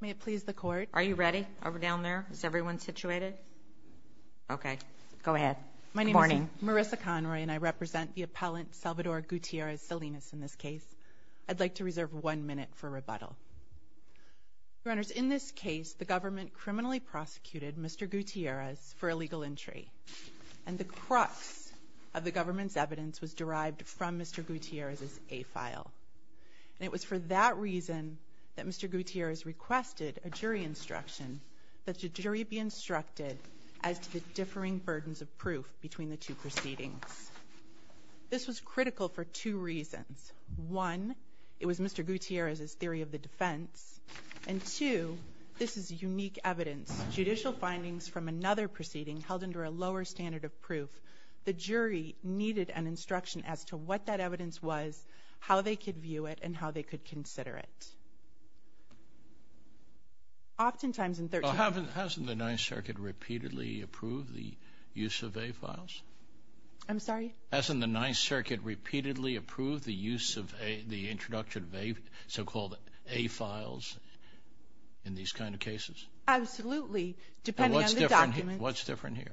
May it please the court? Are you ready? Are we down there? Is everyone situated? Okay. Go ahead. Good morning. My name is Marissa Conroy and I represent the appellant Salvador Gutierrez-Salinas in this case. I'd like to reserve one minute for rebuttal. Your Honors, in this case, the government criminally prosecuted Mr. Gutierrez for illegal entry. And the crux of the government's evidence was derived from Mr. Gutierrez's A-file. And it was for that reason that Mr. Gutierrez requested a jury instruction that the jury be instructed as to the differing burdens of proof between the two proceedings. This was critical for two reasons. One, it was Mr. Gutierrez's theory of the defense. And two, this is unique evidence. Judicial findings from another proceeding held under a lower standard of proof. The jury needed an instruction as to what that evidence was, how they could view it, and how they could consider it. Oftentimes in 13- Well, hasn't the Ninth Circuit repeatedly approved the use of A-files? I'm sorry? Hasn't the Ninth Circuit repeatedly approved the use of the introduction of so-called A-files in these kind of cases? Absolutely, depending on the documents. And what's different here?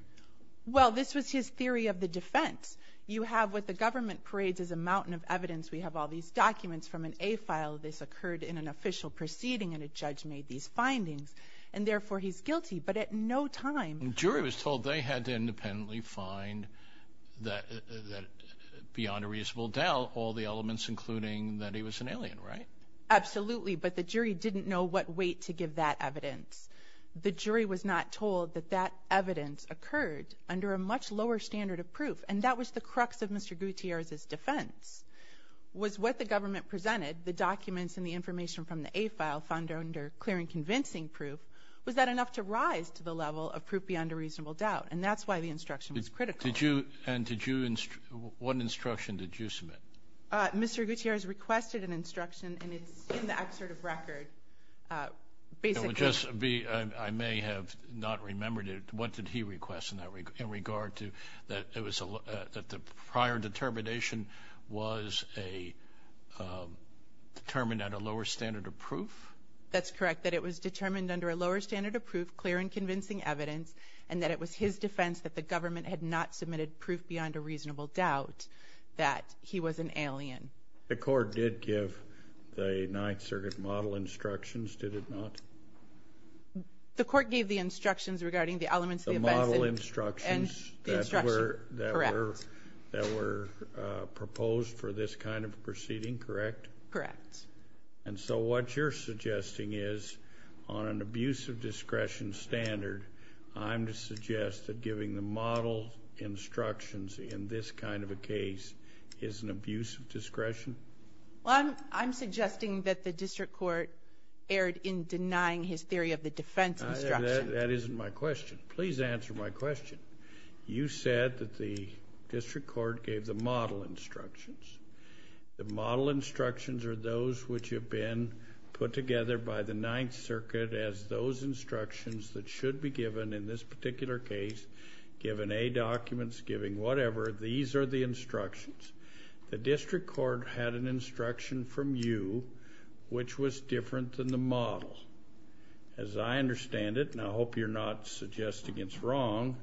Well, this was his theory of the defense. You have what the government parades as a mountain of evidence. We have all these documents from an A-file. This occurred in an official proceeding, and a judge made these findings, and therefore he's guilty. But at no time- The jury was told they had to independently find beyond a reasonable doubt all the elements, including that he was an alien, right? Absolutely, but the jury didn't know what weight to give that evidence. The jury was not told that that evidence occurred under a much lower standard of proof, and that was the crux of Mr. Gutierrez's defense, was what the government presented, the documents and the information from the A-file found under clear and convincing proof, was that enough to rise to the level of proof beyond a reasonable doubt, and that's why the instruction was critical. And did you – what instruction did you submit? Mr. Gutierrez requested an instruction, and it's in the excerpt of record, basically- It would just be – I may have not remembered it. What did he request in regard to – that the prior determination was determined at a lower standard of proof? That's correct, that it was determined under a lower standard of proof, clear and convincing evidence, and that it was his defense that the government had not submitted proof beyond a reasonable doubt that he was an alien. The court did give the Ninth Circuit model instructions, did it not? The court gave the instructions regarding the elements of the advice and the instruction. The model instructions that were proposed for this kind of proceeding, correct? Correct. And so what you're suggesting is, on an abuse of discretion standard, I'm to suggest that giving the model instructions in this kind of a case is an abuse of discretion? Well, I'm suggesting that the district court erred in denying his theory of the defense instruction. That isn't my question. Please answer my question. You said that the district court gave the model instructions. The model instructions are those which have been put together by the Ninth Circuit as those instructions that should be given in this particular case, given A documents, given whatever, these are the instructions. The district court had an instruction from you which was different than the model. As I understand it, and I hope you're not suggesting it's wrong,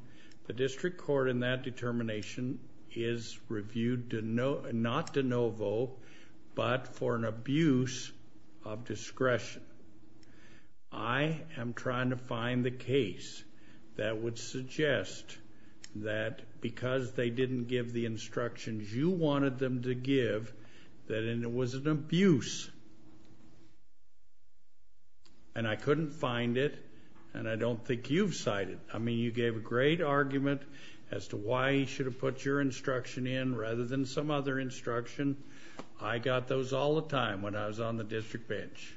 the district court in that determination is reviewed not de novo, but for an abuse of discretion. I am trying to find the case that would suggest that because they didn't give the instructions you wanted them to give, that it was an abuse, and I couldn't find it, and I don't think you've cited it. I mean, you gave a great argument as to why you should have put your instruction in rather than some other instruction. I got those all the time when I was on the district bench.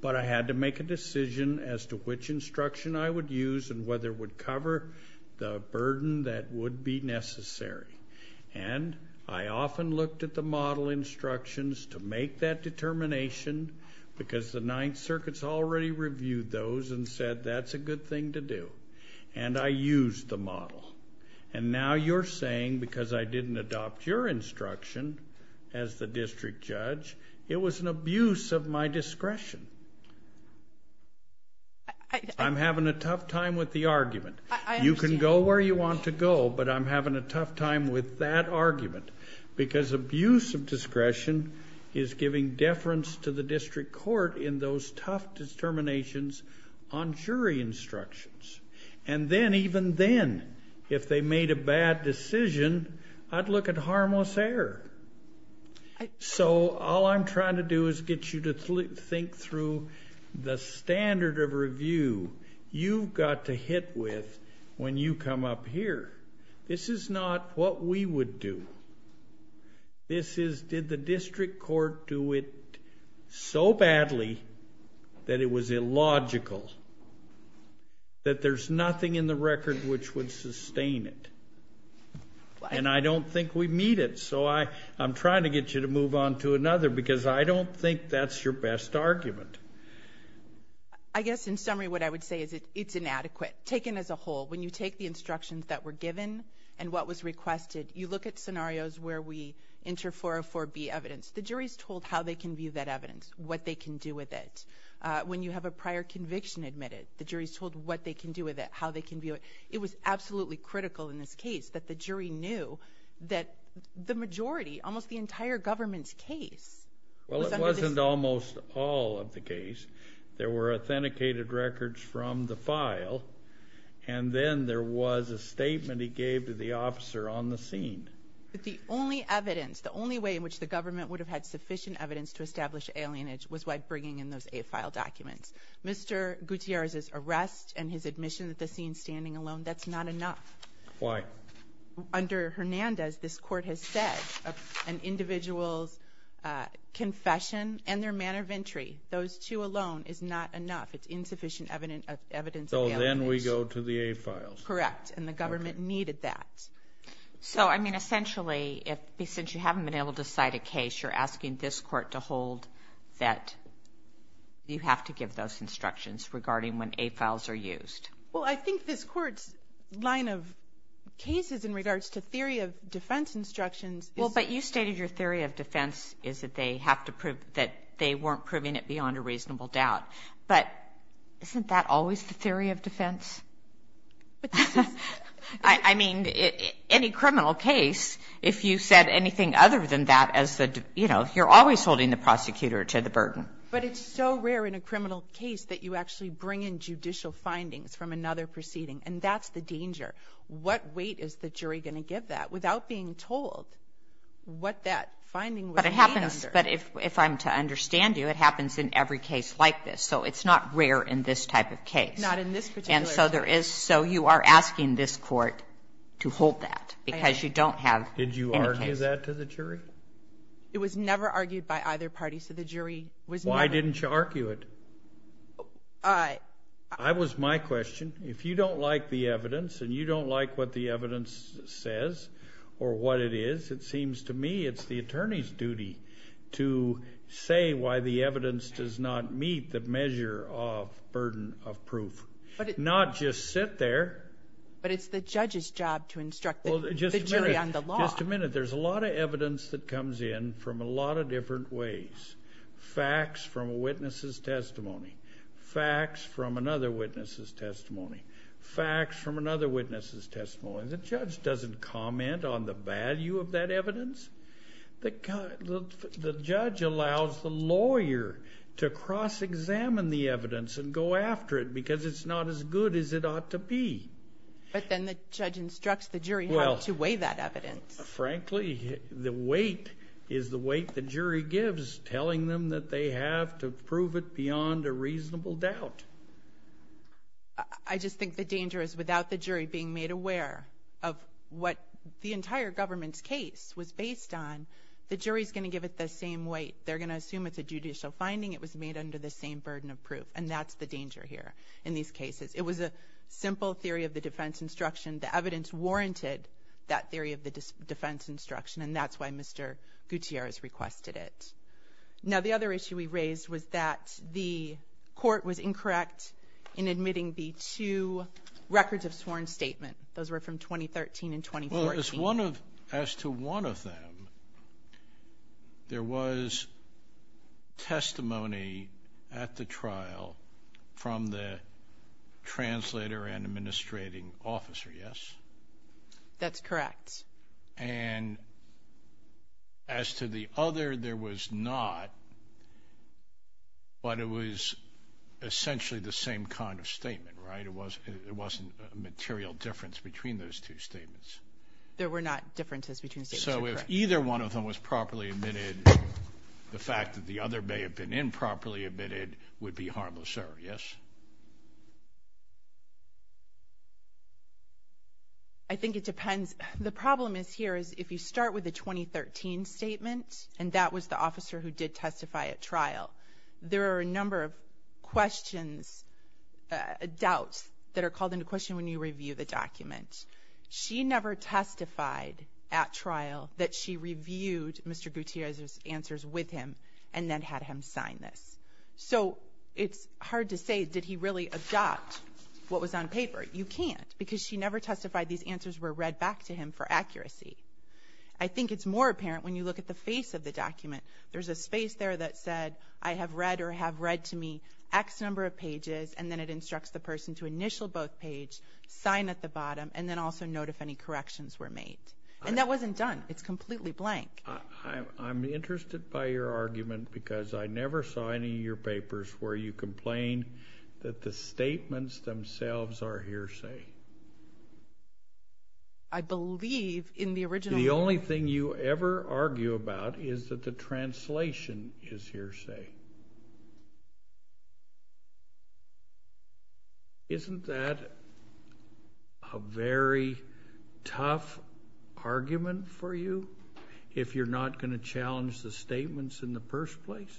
But I had to make a decision as to which instruction I would use and whether it would cover the burden that would be necessary. And I often looked at the model instructions to make that determination because the Ninth Circuit's already reviewed those and said that's a good thing to do. And I used the model. And now you're saying because I didn't adopt your instruction as the district judge, it was an abuse of my discretion. I'm having a tough time with the argument. You can go where you want to go, but I'm having a tough time with that argument because abuse of discretion is giving deference to the district court in those tough determinations on jury instructions. And then, even then, if they made a bad decision, I'd look at harmless error. So all I'm trying to do is get you to think through the standard of review you've got to hit with when you come up here. This is not what we would do. This is did the district court do it so badly that it was illogical, that there's nothing in the record which would sustain it. And I don't think we meet it. So I'm trying to get you to move on to another because I don't think that's your best argument. I guess, in summary, what I would say is it's inadequate. Taken as a whole, when you take the instructions that were given and what was requested, you look at scenarios where we enter 404B evidence. The jury's told how they can view that evidence, what they can do with it. When you have a prior conviction admitted, the jury's told what they can do with it, how they can view it. It was absolutely critical in this case that the jury knew that the majority, almost the entire government's case was under this. Well, it wasn't almost all of the case. There were authenticated records from the file, and then there was a statement he gave to the officer on the scene. But the only evidence, the only way in which the government would have had sufficient evidence to establish alienage was by bringing in those A-file documents. Mr. Gutierrez's arrest and his admission that the scene's standing alone, that's not enough. Why? Under Hernandez, this court has said an individual's confession and their manner of entry, those two alone is not enough. It's insufficient evidence of alienation. So then we go to the A-files. Correct. And the government needed that. So, I mean, essentially, since you haven't been able to cite a case, you're asking this court to hold that you have to give those instructions regarding when A-files are used. Well, I think this court's line of cases in regards to theory of defense instructions is... But isn't that always the theory of defense? I mean, any criminal case, if you said anything other than that as the, you know, you're always holding the prosecutor to the burden. But it's so rare in a criminal case that you actually bring in judicial findings from another proceeding, and that's the danger. What weight is the jury going to give that without being told what that finding was made under? But it happens, but if I'm to understand you, it happens in every case like this. So it's not rare in this type of case. Not in this particular case. And so there is, so you are asking this court to hold that because you don't have any case. Did you argue that to the jury? It was never argued by either party, so the jury was never... Why didn't you argue it? That was my question. If you don't like the evidence and you don't like what the evidence says or what it is, it seems to me it's the attorney's duty to say why the evidence does not meet the measure of burden of proof. Not just sit there. But it's the judge's job to instruct the jury on the law. Just a minute. There's a lot of evidence that comes in from a lot of different ways. Facts from a witness's testimony. Facts from another witness's testimony. Facts from another witness's testimony. The judge doesn't comment on the value of that evidence. The judge allows the lawyer to cross-examine the evidence and go after it because it's not as good as it ought to be. But then the judge instructs the jury how to weigh that evidence. Frankly, the weight is the weight the jury gives, telling them that they have to prove it beyond a reasonable doubt. I just think the danger is without the jury being made aware of what the entire government's case was based on, the jury is going to give it the same weight. They're going to assume it's a judicial finding. It was made under the same burden of proof, and that's the danger here in these cases. It was a simple theory of the defense instruction. The evidence warranted that theory of the defense instruction, and that's why Mr. Gutierrez requested it. Now, the other issue we raised was that the court was incorrect in admitting the two records of sworn statement. Those were from 2013 and 2014. Well, as to one of them, there was testimony at the trial from the translator and administrating officer, yes? That's correct. And as to the other, there was not, but it was essentially the same kind of statement, right? It wasn't a material difference between those two statements. There were not differences between the statements. So if either one of them was properly admitted, the fact that the other may have been improperly admitted would be harmless, sir, yes? I think it depends. The problem is here is if you start with the 2013 statement, and that was the officer who did testify at trial, there are a number of questions, doubts that are called into question when you review the document. She never testified at trial that she reviewed Mr. Gutierrez's answers with him and then had him sign this. So it's hard to say, did he really adopt what was on paper? You can't because she never testified these answers were read back to him for accuracy. I think it's more apparent when you look at the face of the document. There's a space there that said, I have read or have read to me X number of pages, and then it instructs the person to initial both pages, sign at the bottom, and then also note if any corrections were made. And that wasn't done. It's completely blank. I'm interested by your argument because I never saw any of your papers where you complain that the statements themselves are hearsay. I believe in the original. The only thing you ever argue about is that the translation is hearsay. Isn't that a very tough argument for you if you're not going to challenge the statements in the first place?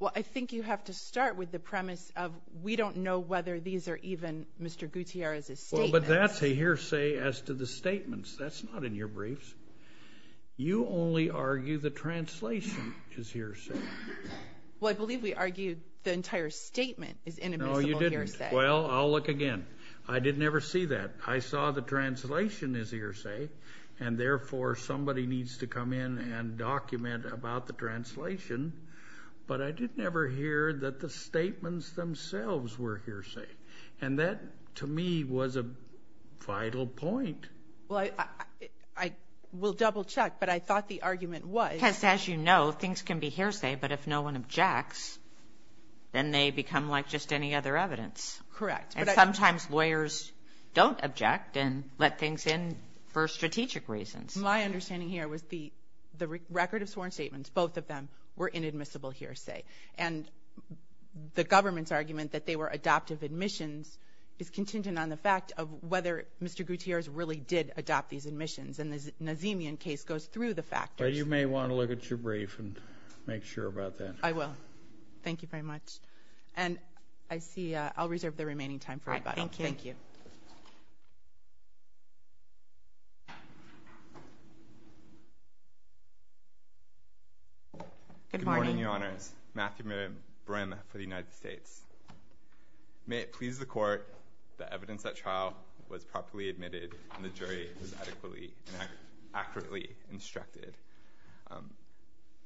Well, I think you have to start with the premise of we don't know whether these are even Mr. Gutierrez's statements. Well, but that's a hearsay as to the statements. That's not in your briefs. You only argue the translation is hearsay. Well, I believe we argued the entire statement is inadmissible hearsay. No, you didn't. Well, I'll look again. I did never see that. I saw the translation is hearsay, and therefore somebody needs to come in and document about the translation. But I did never hear that the statements themselves were hearsay. And that, to me, was a vital point. Well, I will double-check, but I thought the argument was. Because, as you know, things can be hearsay, but if no one objects, then they become like just any other evidence. Correct. And sometimes lawyers don't object and let things in for strategic reasons. My understanding here was the record of sworn statements, both of them, were inadmissible hearsay. And the government's argument that they were adoptive admissions is contingent on the fact of whether Mr. Gutierrez really did adopt these admissions. And the Nazemian case goes through the factors. Well, you may want to look at your brief and make sure about that. I will. Thank you very much. And I see I'll reserve the remaining time for rebuttal. Thank you. Thank you. Good morning. Good morning, Your Honors. Matthew Brim for the United States. May it please the Court that evidence at trial was properly admitted and the jury was adequately and accurately instructed.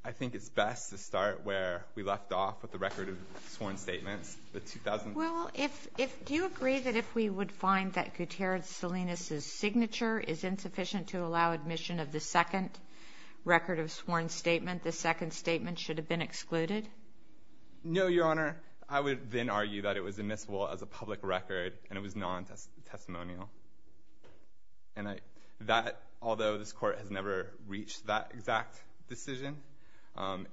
I think it's best to start where we left off with the record of sworn statements. Well, do you agree that if we would find that Gutierrez Salinas' signature is insufficient to allow admission of the second record of sworn statement, the second statement should have been excluded? No, Your Honor. I would then argue that it was admissible as a public record and it was non-testimonial. And that, although this Court has never reached that exact decision,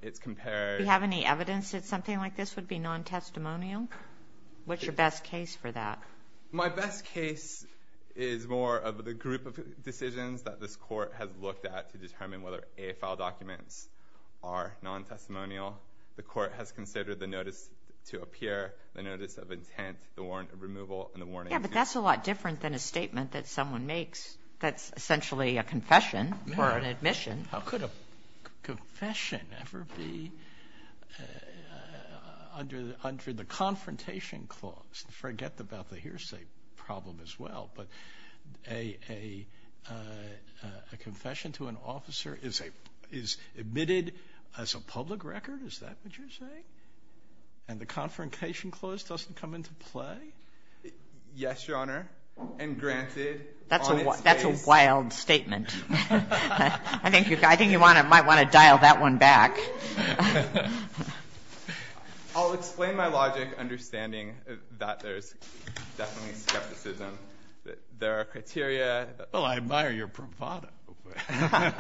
it's compared. Do you have any evidence that something like this would be non-testimonial? What's your best case for that? My best case is more of the group of decisions that this Court has looked at to determine whether A-file documents are non-testimonial. The Court has considered the notice to appear, the notice of intent, the warrant of removal, and the warrant of intent. Yeah, but that's a lot different than a statement that someone makes that's essentially a confession or an admission. How could a confession ever be under the confrontation clause? Forget about the hearsay problem as well, but a confession to an officer is admitted as a public record? Is that what you're saying? And the confrontation clause doesn't come into play? Yes, Your Honor, and granted. That's a wild statement. I think you might want to dial that one back. I'll explain my logic, understanding that there's definitely skepticism. There are criteria. Well, I admire your bravado. I'm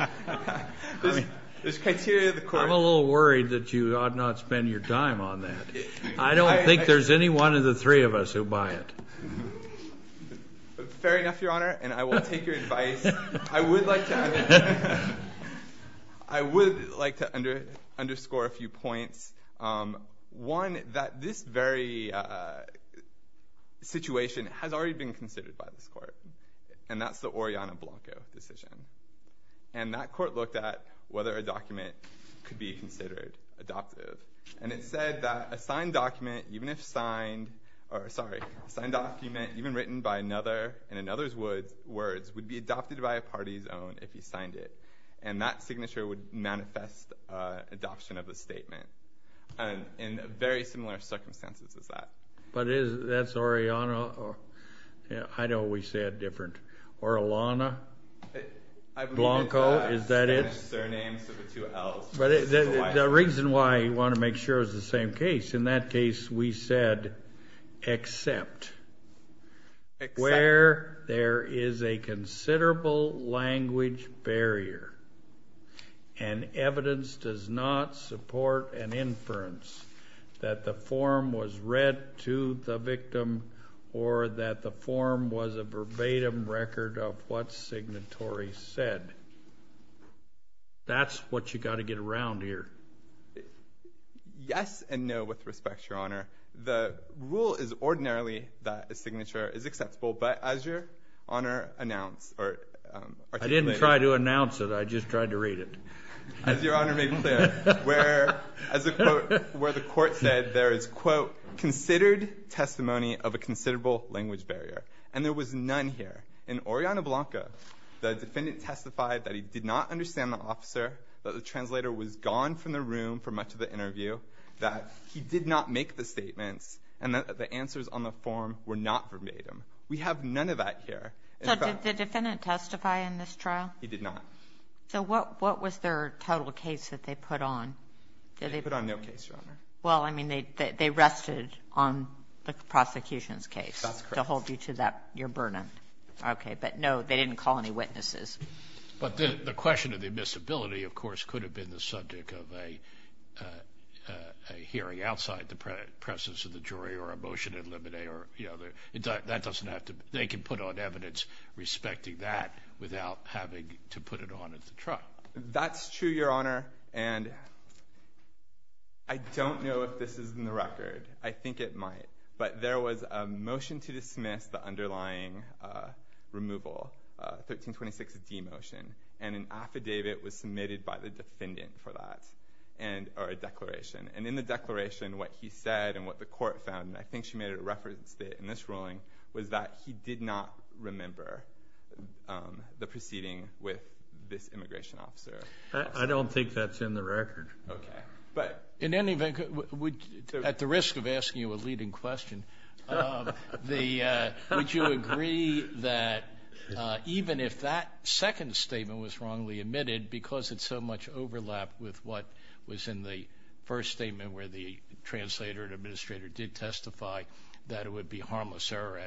a little worried that you ought not spend your time on that. I don't think there's any one of the three of us who buy it. Fair enough, Your Honor, and I will take your advice. I would like to underscore a few points. One, that this very situation has already been considered by this court, and that's the Oriana Blanco decision. And that court looked at whether a document could be considered adoptive, and it said that a signed document even written by another in another's words would be adopted by a party's own if he signed it. And that signature would manifest adoption of the statement in very similar circumstances as that. But that's Oriana. I know we say it different. Or Alana Blanco. Is that it? But the reason why I want to make sure is the same case. In that case, we said except where there is a considerable language barrier and evidence does not support an inference that the form was read to the victim or that the form was a verbatim record of what signatory said. That's what you've got to get around here. Yes and no, with respect, Your Honor. The rule is ordinarily that a signature is acceptable, but as Your Honor announced or articulated. I didn't try to announce it. I just tried to read it. As Your Honor made clear, where the court said there is, quote, considered testimony of a considerable language barrier, and there was none here. In Oriana Blanco, the defendant testified that he did not understand the officer, that the translator was gone from the room for much of the interview, that he did not make the statements, and that the answers on the form were not verbatim. We have none of that here. So did the defendant testify in this trial? He did not. So what was their total case that they put on? They put on no case, Your Honor. Well, I mean, they rested on the prosecution's case. That's correct. To hold you to that, your burden. Okay, but no, they didn't call any witnesses. But the question of the admissibility, of course, could have been the subject of a hearing outside the presence of the jury or a motion in limine or, you know, that doesn't have to be. They can put on evidence respecting that without having to put it on at the trial. That's true, Your Honor, and I don't know if this is in the record. I think it might. But there was a motion to dismiss the underlying removal, 1326D motion, and an affidavit was submitted by the defendant for that, or a declaration. And in the declaration, what he said and what the court found, and I think she made a reference to it in this ruling, was that he did not remember the proceeding with this immigration officer. I don't think that's in the record. Okay. In any event, at the risk of asking you a leading question, would you agree that even if that second statement was wrongly omitted because it's so much overlap with what was in the first statement where the translator and administrator did testify that it would be harmless error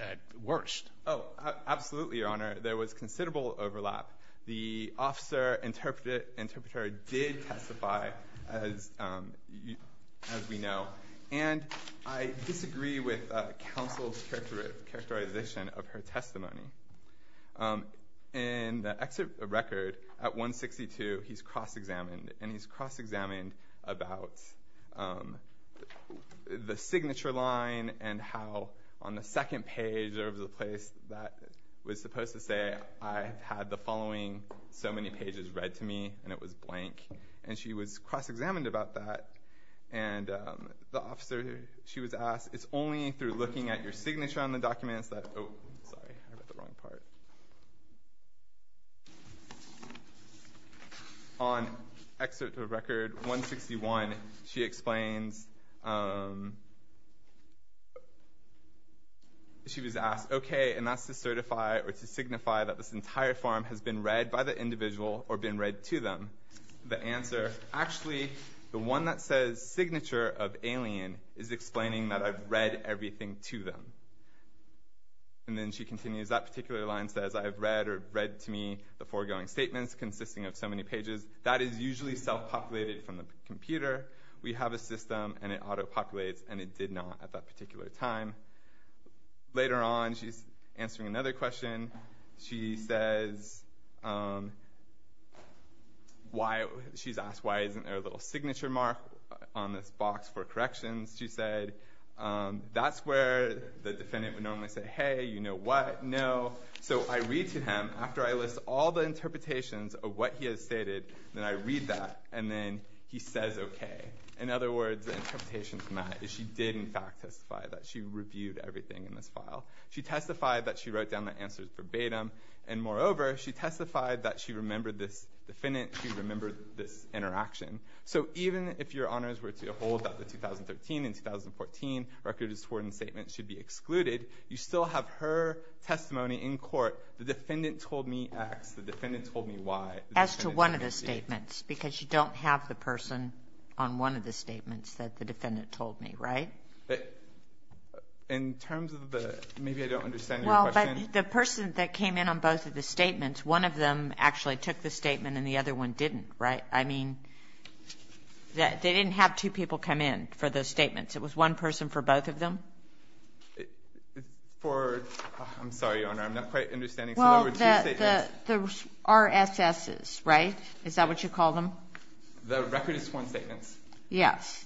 at worst? Oh, absolutely, Your Honor. There was considerable overlap. The officer interpreter did testify, as we know, and I disagree with counsel's characterization of her testimony. In the record, at 162, he's cross-examined, and he's cross-examined about the signature line and how on the second page there was a place that was supposed to say, I have had the following so many pages read to me, and it was blank, and she was cross-examined about that. And the officer, she was asked, it's only through looking at your signature on the documents that, oh, sorry, I read the wrong part. On excerpt of record 161, she explains, she was asked, okay, and that's to certify or to signify that this entire form has been read by the individual or been read to them. The answer, actually, the one that says signature of alien is explaining that I've read everything to them. And then she continues, that particular line says, I've read or read to me the foregoing statements consisting of so many pages. That is usually self-populated from the computer. We have a system, and it auto-populates, and it did not at that particular time. Later on, she's answering another question. She says, she's asked, why isn't there a little signature mark on this box for corrections? She said, that's where the defendant would normally say, hey, you know what, no. So I read to him, after I list all the interpretations of what he has stated, then I read that, and then he says, okay. In other words, the interpretation from that is she did, in fact, testify that she reviewed everything in this file. She testified that she wrote down the answers verbatim, and moreover, she testified that she remembered this defendant, she remembered this interaction. So even if your honors were to hold that the 2013 and 2014 record disorder statement should be excluded, you still have her testimony in court, the defendant told me X, the defendant told me Y. As to one of the statements, because you don't have the person on one of the statements that the defendant told me, right? In terms of the, maybe I don't understand your question. Well, but the person that came in on both of the statements, one of them actually took the statement and the other one didn't, right? I mean, they didn't have two people come in for those statements. It was one person for both of them? For, I'm sorry, Your Honor, I'm not quite understanding. Well, the RSSs, right? Is that what you call them? The Recordist 1 statements. Yes.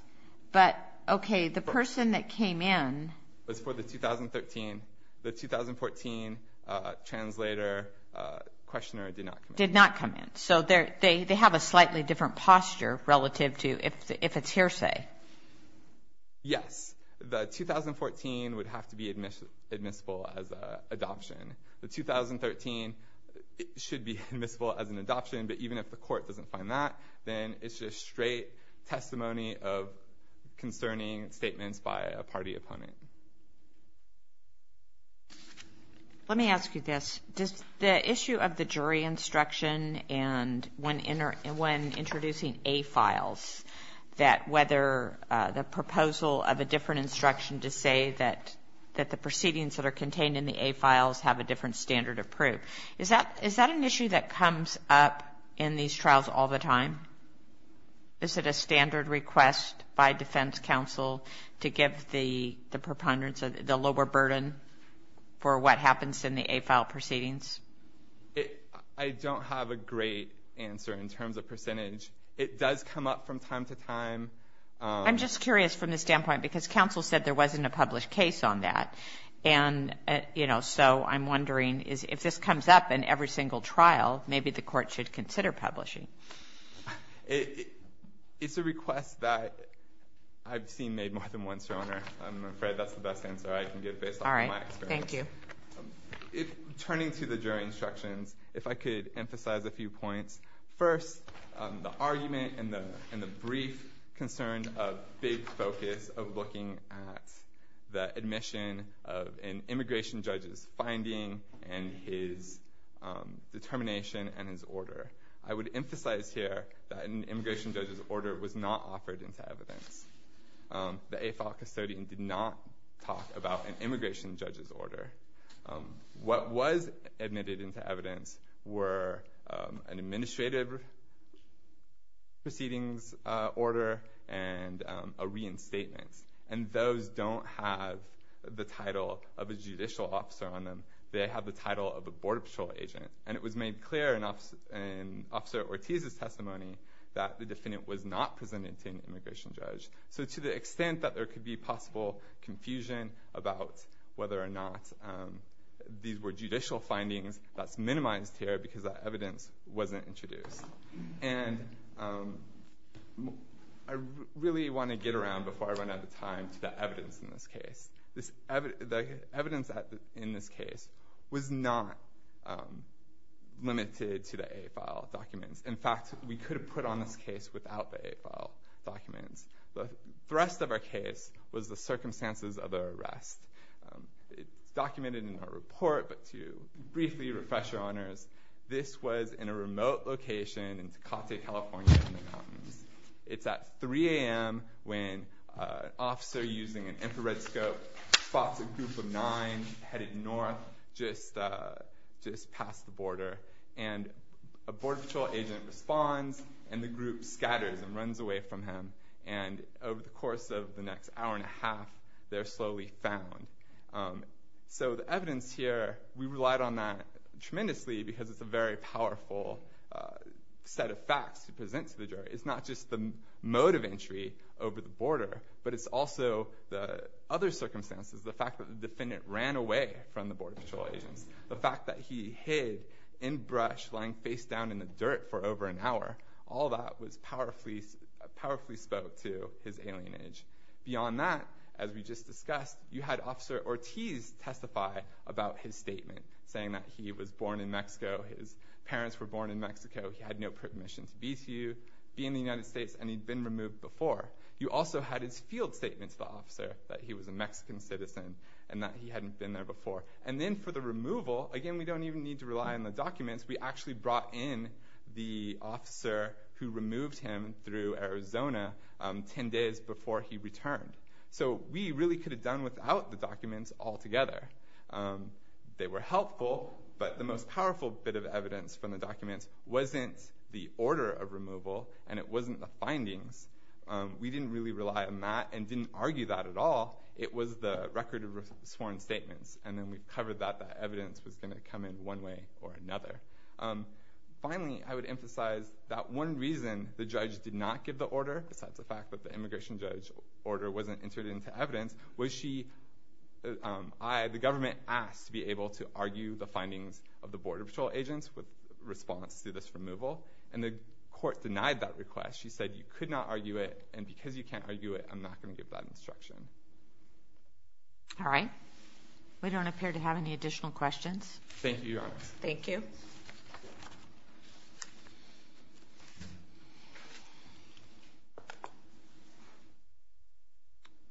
But, okay, the person that came in. Was for the 2013. The 2014 translator, questioner did not come in. Did not come in. So they have a slightly different posture relative to if it's hearsay. Yes. The 2014 would have to be admissible as an adoption. The 2013 should be admissible as an adoption, but even if the court doesn't find that, then it's just straight testimony of concerning statements by a party opponent. Let me ask you this. The issue of the jury instruction and when introducing A-files, that whether the proposal of a different instruction to say that the proceedings that are contained in the A-files have a different standard of proof, is that an issue that comes up in these trials all the time? Is it a standard request by defense counsel to give the preponderance, the lower burden for what happens in the A-file proceedings? I don't have a great answer in terms of percentage. It does come up from time to time. I'm just curious from the standpoint, because counsel said there wasn't a published case on that, and so I'm wondering if this comes up in every single trial, maybe the court should consider publishing. I'm afraid that's the best answer I can give based on my experience. All right. Thank you. Turning to the jury instructions, if I could emphasize a few points. First, the argument and the brief concern of big focus of looking at the admission of an immigration judge's finding and his determination and his order. I would emphasize here that an immigration judge's order was not offered into evidence. The A-file custodian did not talk about an immigration judge's order. What was admitted into evidence were an administrative proceedings order and a reinstatement, and those don't have the title of a judicial officer on them. They have the title of a border patrol agent, and it was made clear in Officer Ortiz's testimony that the defendant was not presented to an immigration judge. So to the extent that there could be possible confusion about whether or not these were judicial findings, that's minimized here because that evidence wasn't introduced. And I really want to get around, before I run out of time, to the evidence in this case. The evidence in this case was not limited to the A-file documents. In fact, we could have put on this case without the A-file documents. The rest of our case was the circumstances of the arrest. It's documented in our report, but to briefly refresh your honors, this was in a remote location in Tecate, California, in the mountains. It's at 3 a.m. when an officer using an infrared scope spots a group of nine headed north, just past the border. And a border patrol agent responds, and the group scatters and runs away from him. And over the course of the next hour and a half, they're slowly found. So the evidence here, we relied on that tremendously because it's a very powerful set of facts to present to the jury. It's not just the mode of entry over the border, but it's also the other circumstances, the fact that the defendant ran away from the border patrol agents, the fact that he hid in brush, lying face down in the dirt for over an hour. All that powerfully spoke to his alienage. Beyond that, as we just discussed, you had Officer Ortiz testify about his statement, saying that he was born in Mexico, his parents were born in Mexico, he had no permission to be to you, be in the United States, and he'd been removed before. You also had his field statement to the officer, that he was a Mexican citizen, and that he hadn't been there before. And then for the removal, again, we don't even need to rely on the documents, we actually brought in the officer who removed him through Arizona ten days before he returned. So we really could have done without the documents altogether. They were helpful, but the most powerful bit of evidence from the documents wasn't the order of removal and it wasn't the findings. We didn't really rely on that and didn't argue that at all. It was the record of sworn statements, and then we covered that, that evidence was going to come in one way or another. Finally, I would emphasize that one reason the judge did not give the order, besides the fact that the immigration judge order wasn't entered into evidence, was she—the government asked to be able to argue the findings of the Border Patrol agents with response to this removal, and the court denied that request. She said you could not argue it, and because you can't argue it, I'm not going to give that instruction. All right. We don't appear to have any additional questions. Thank you, Your Honor. Thank you. Thank you.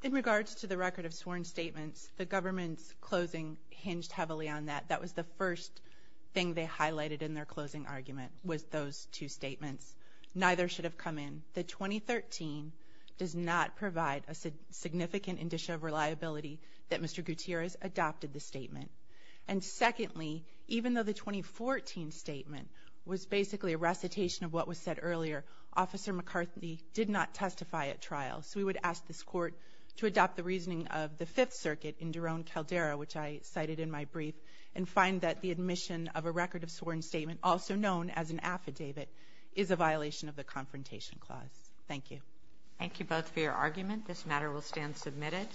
In regards to the record of sworn statements, the government's closing hinged heavily on that. That was the first thing they highlighted in their closing argument, was those two statements. Neither should have come in. The 2013 does not provide a significant indicia of reliability that Mr. Gutierrez adopted the statement. And secondly, even though the 2014 statement was basically a recitation of what was said earlier, Officer McCarthy did not testify at trial. So we would ask this court to adopt the reasoning of the Fifth Circuit in Daron Caldera, which I cited in my brief, and find that the admission of a record of sworn statement, also known as an affidavit, is a violation of the Confrontation Clause. Thank you. Thank you both for your argument. This matter will stand submitted.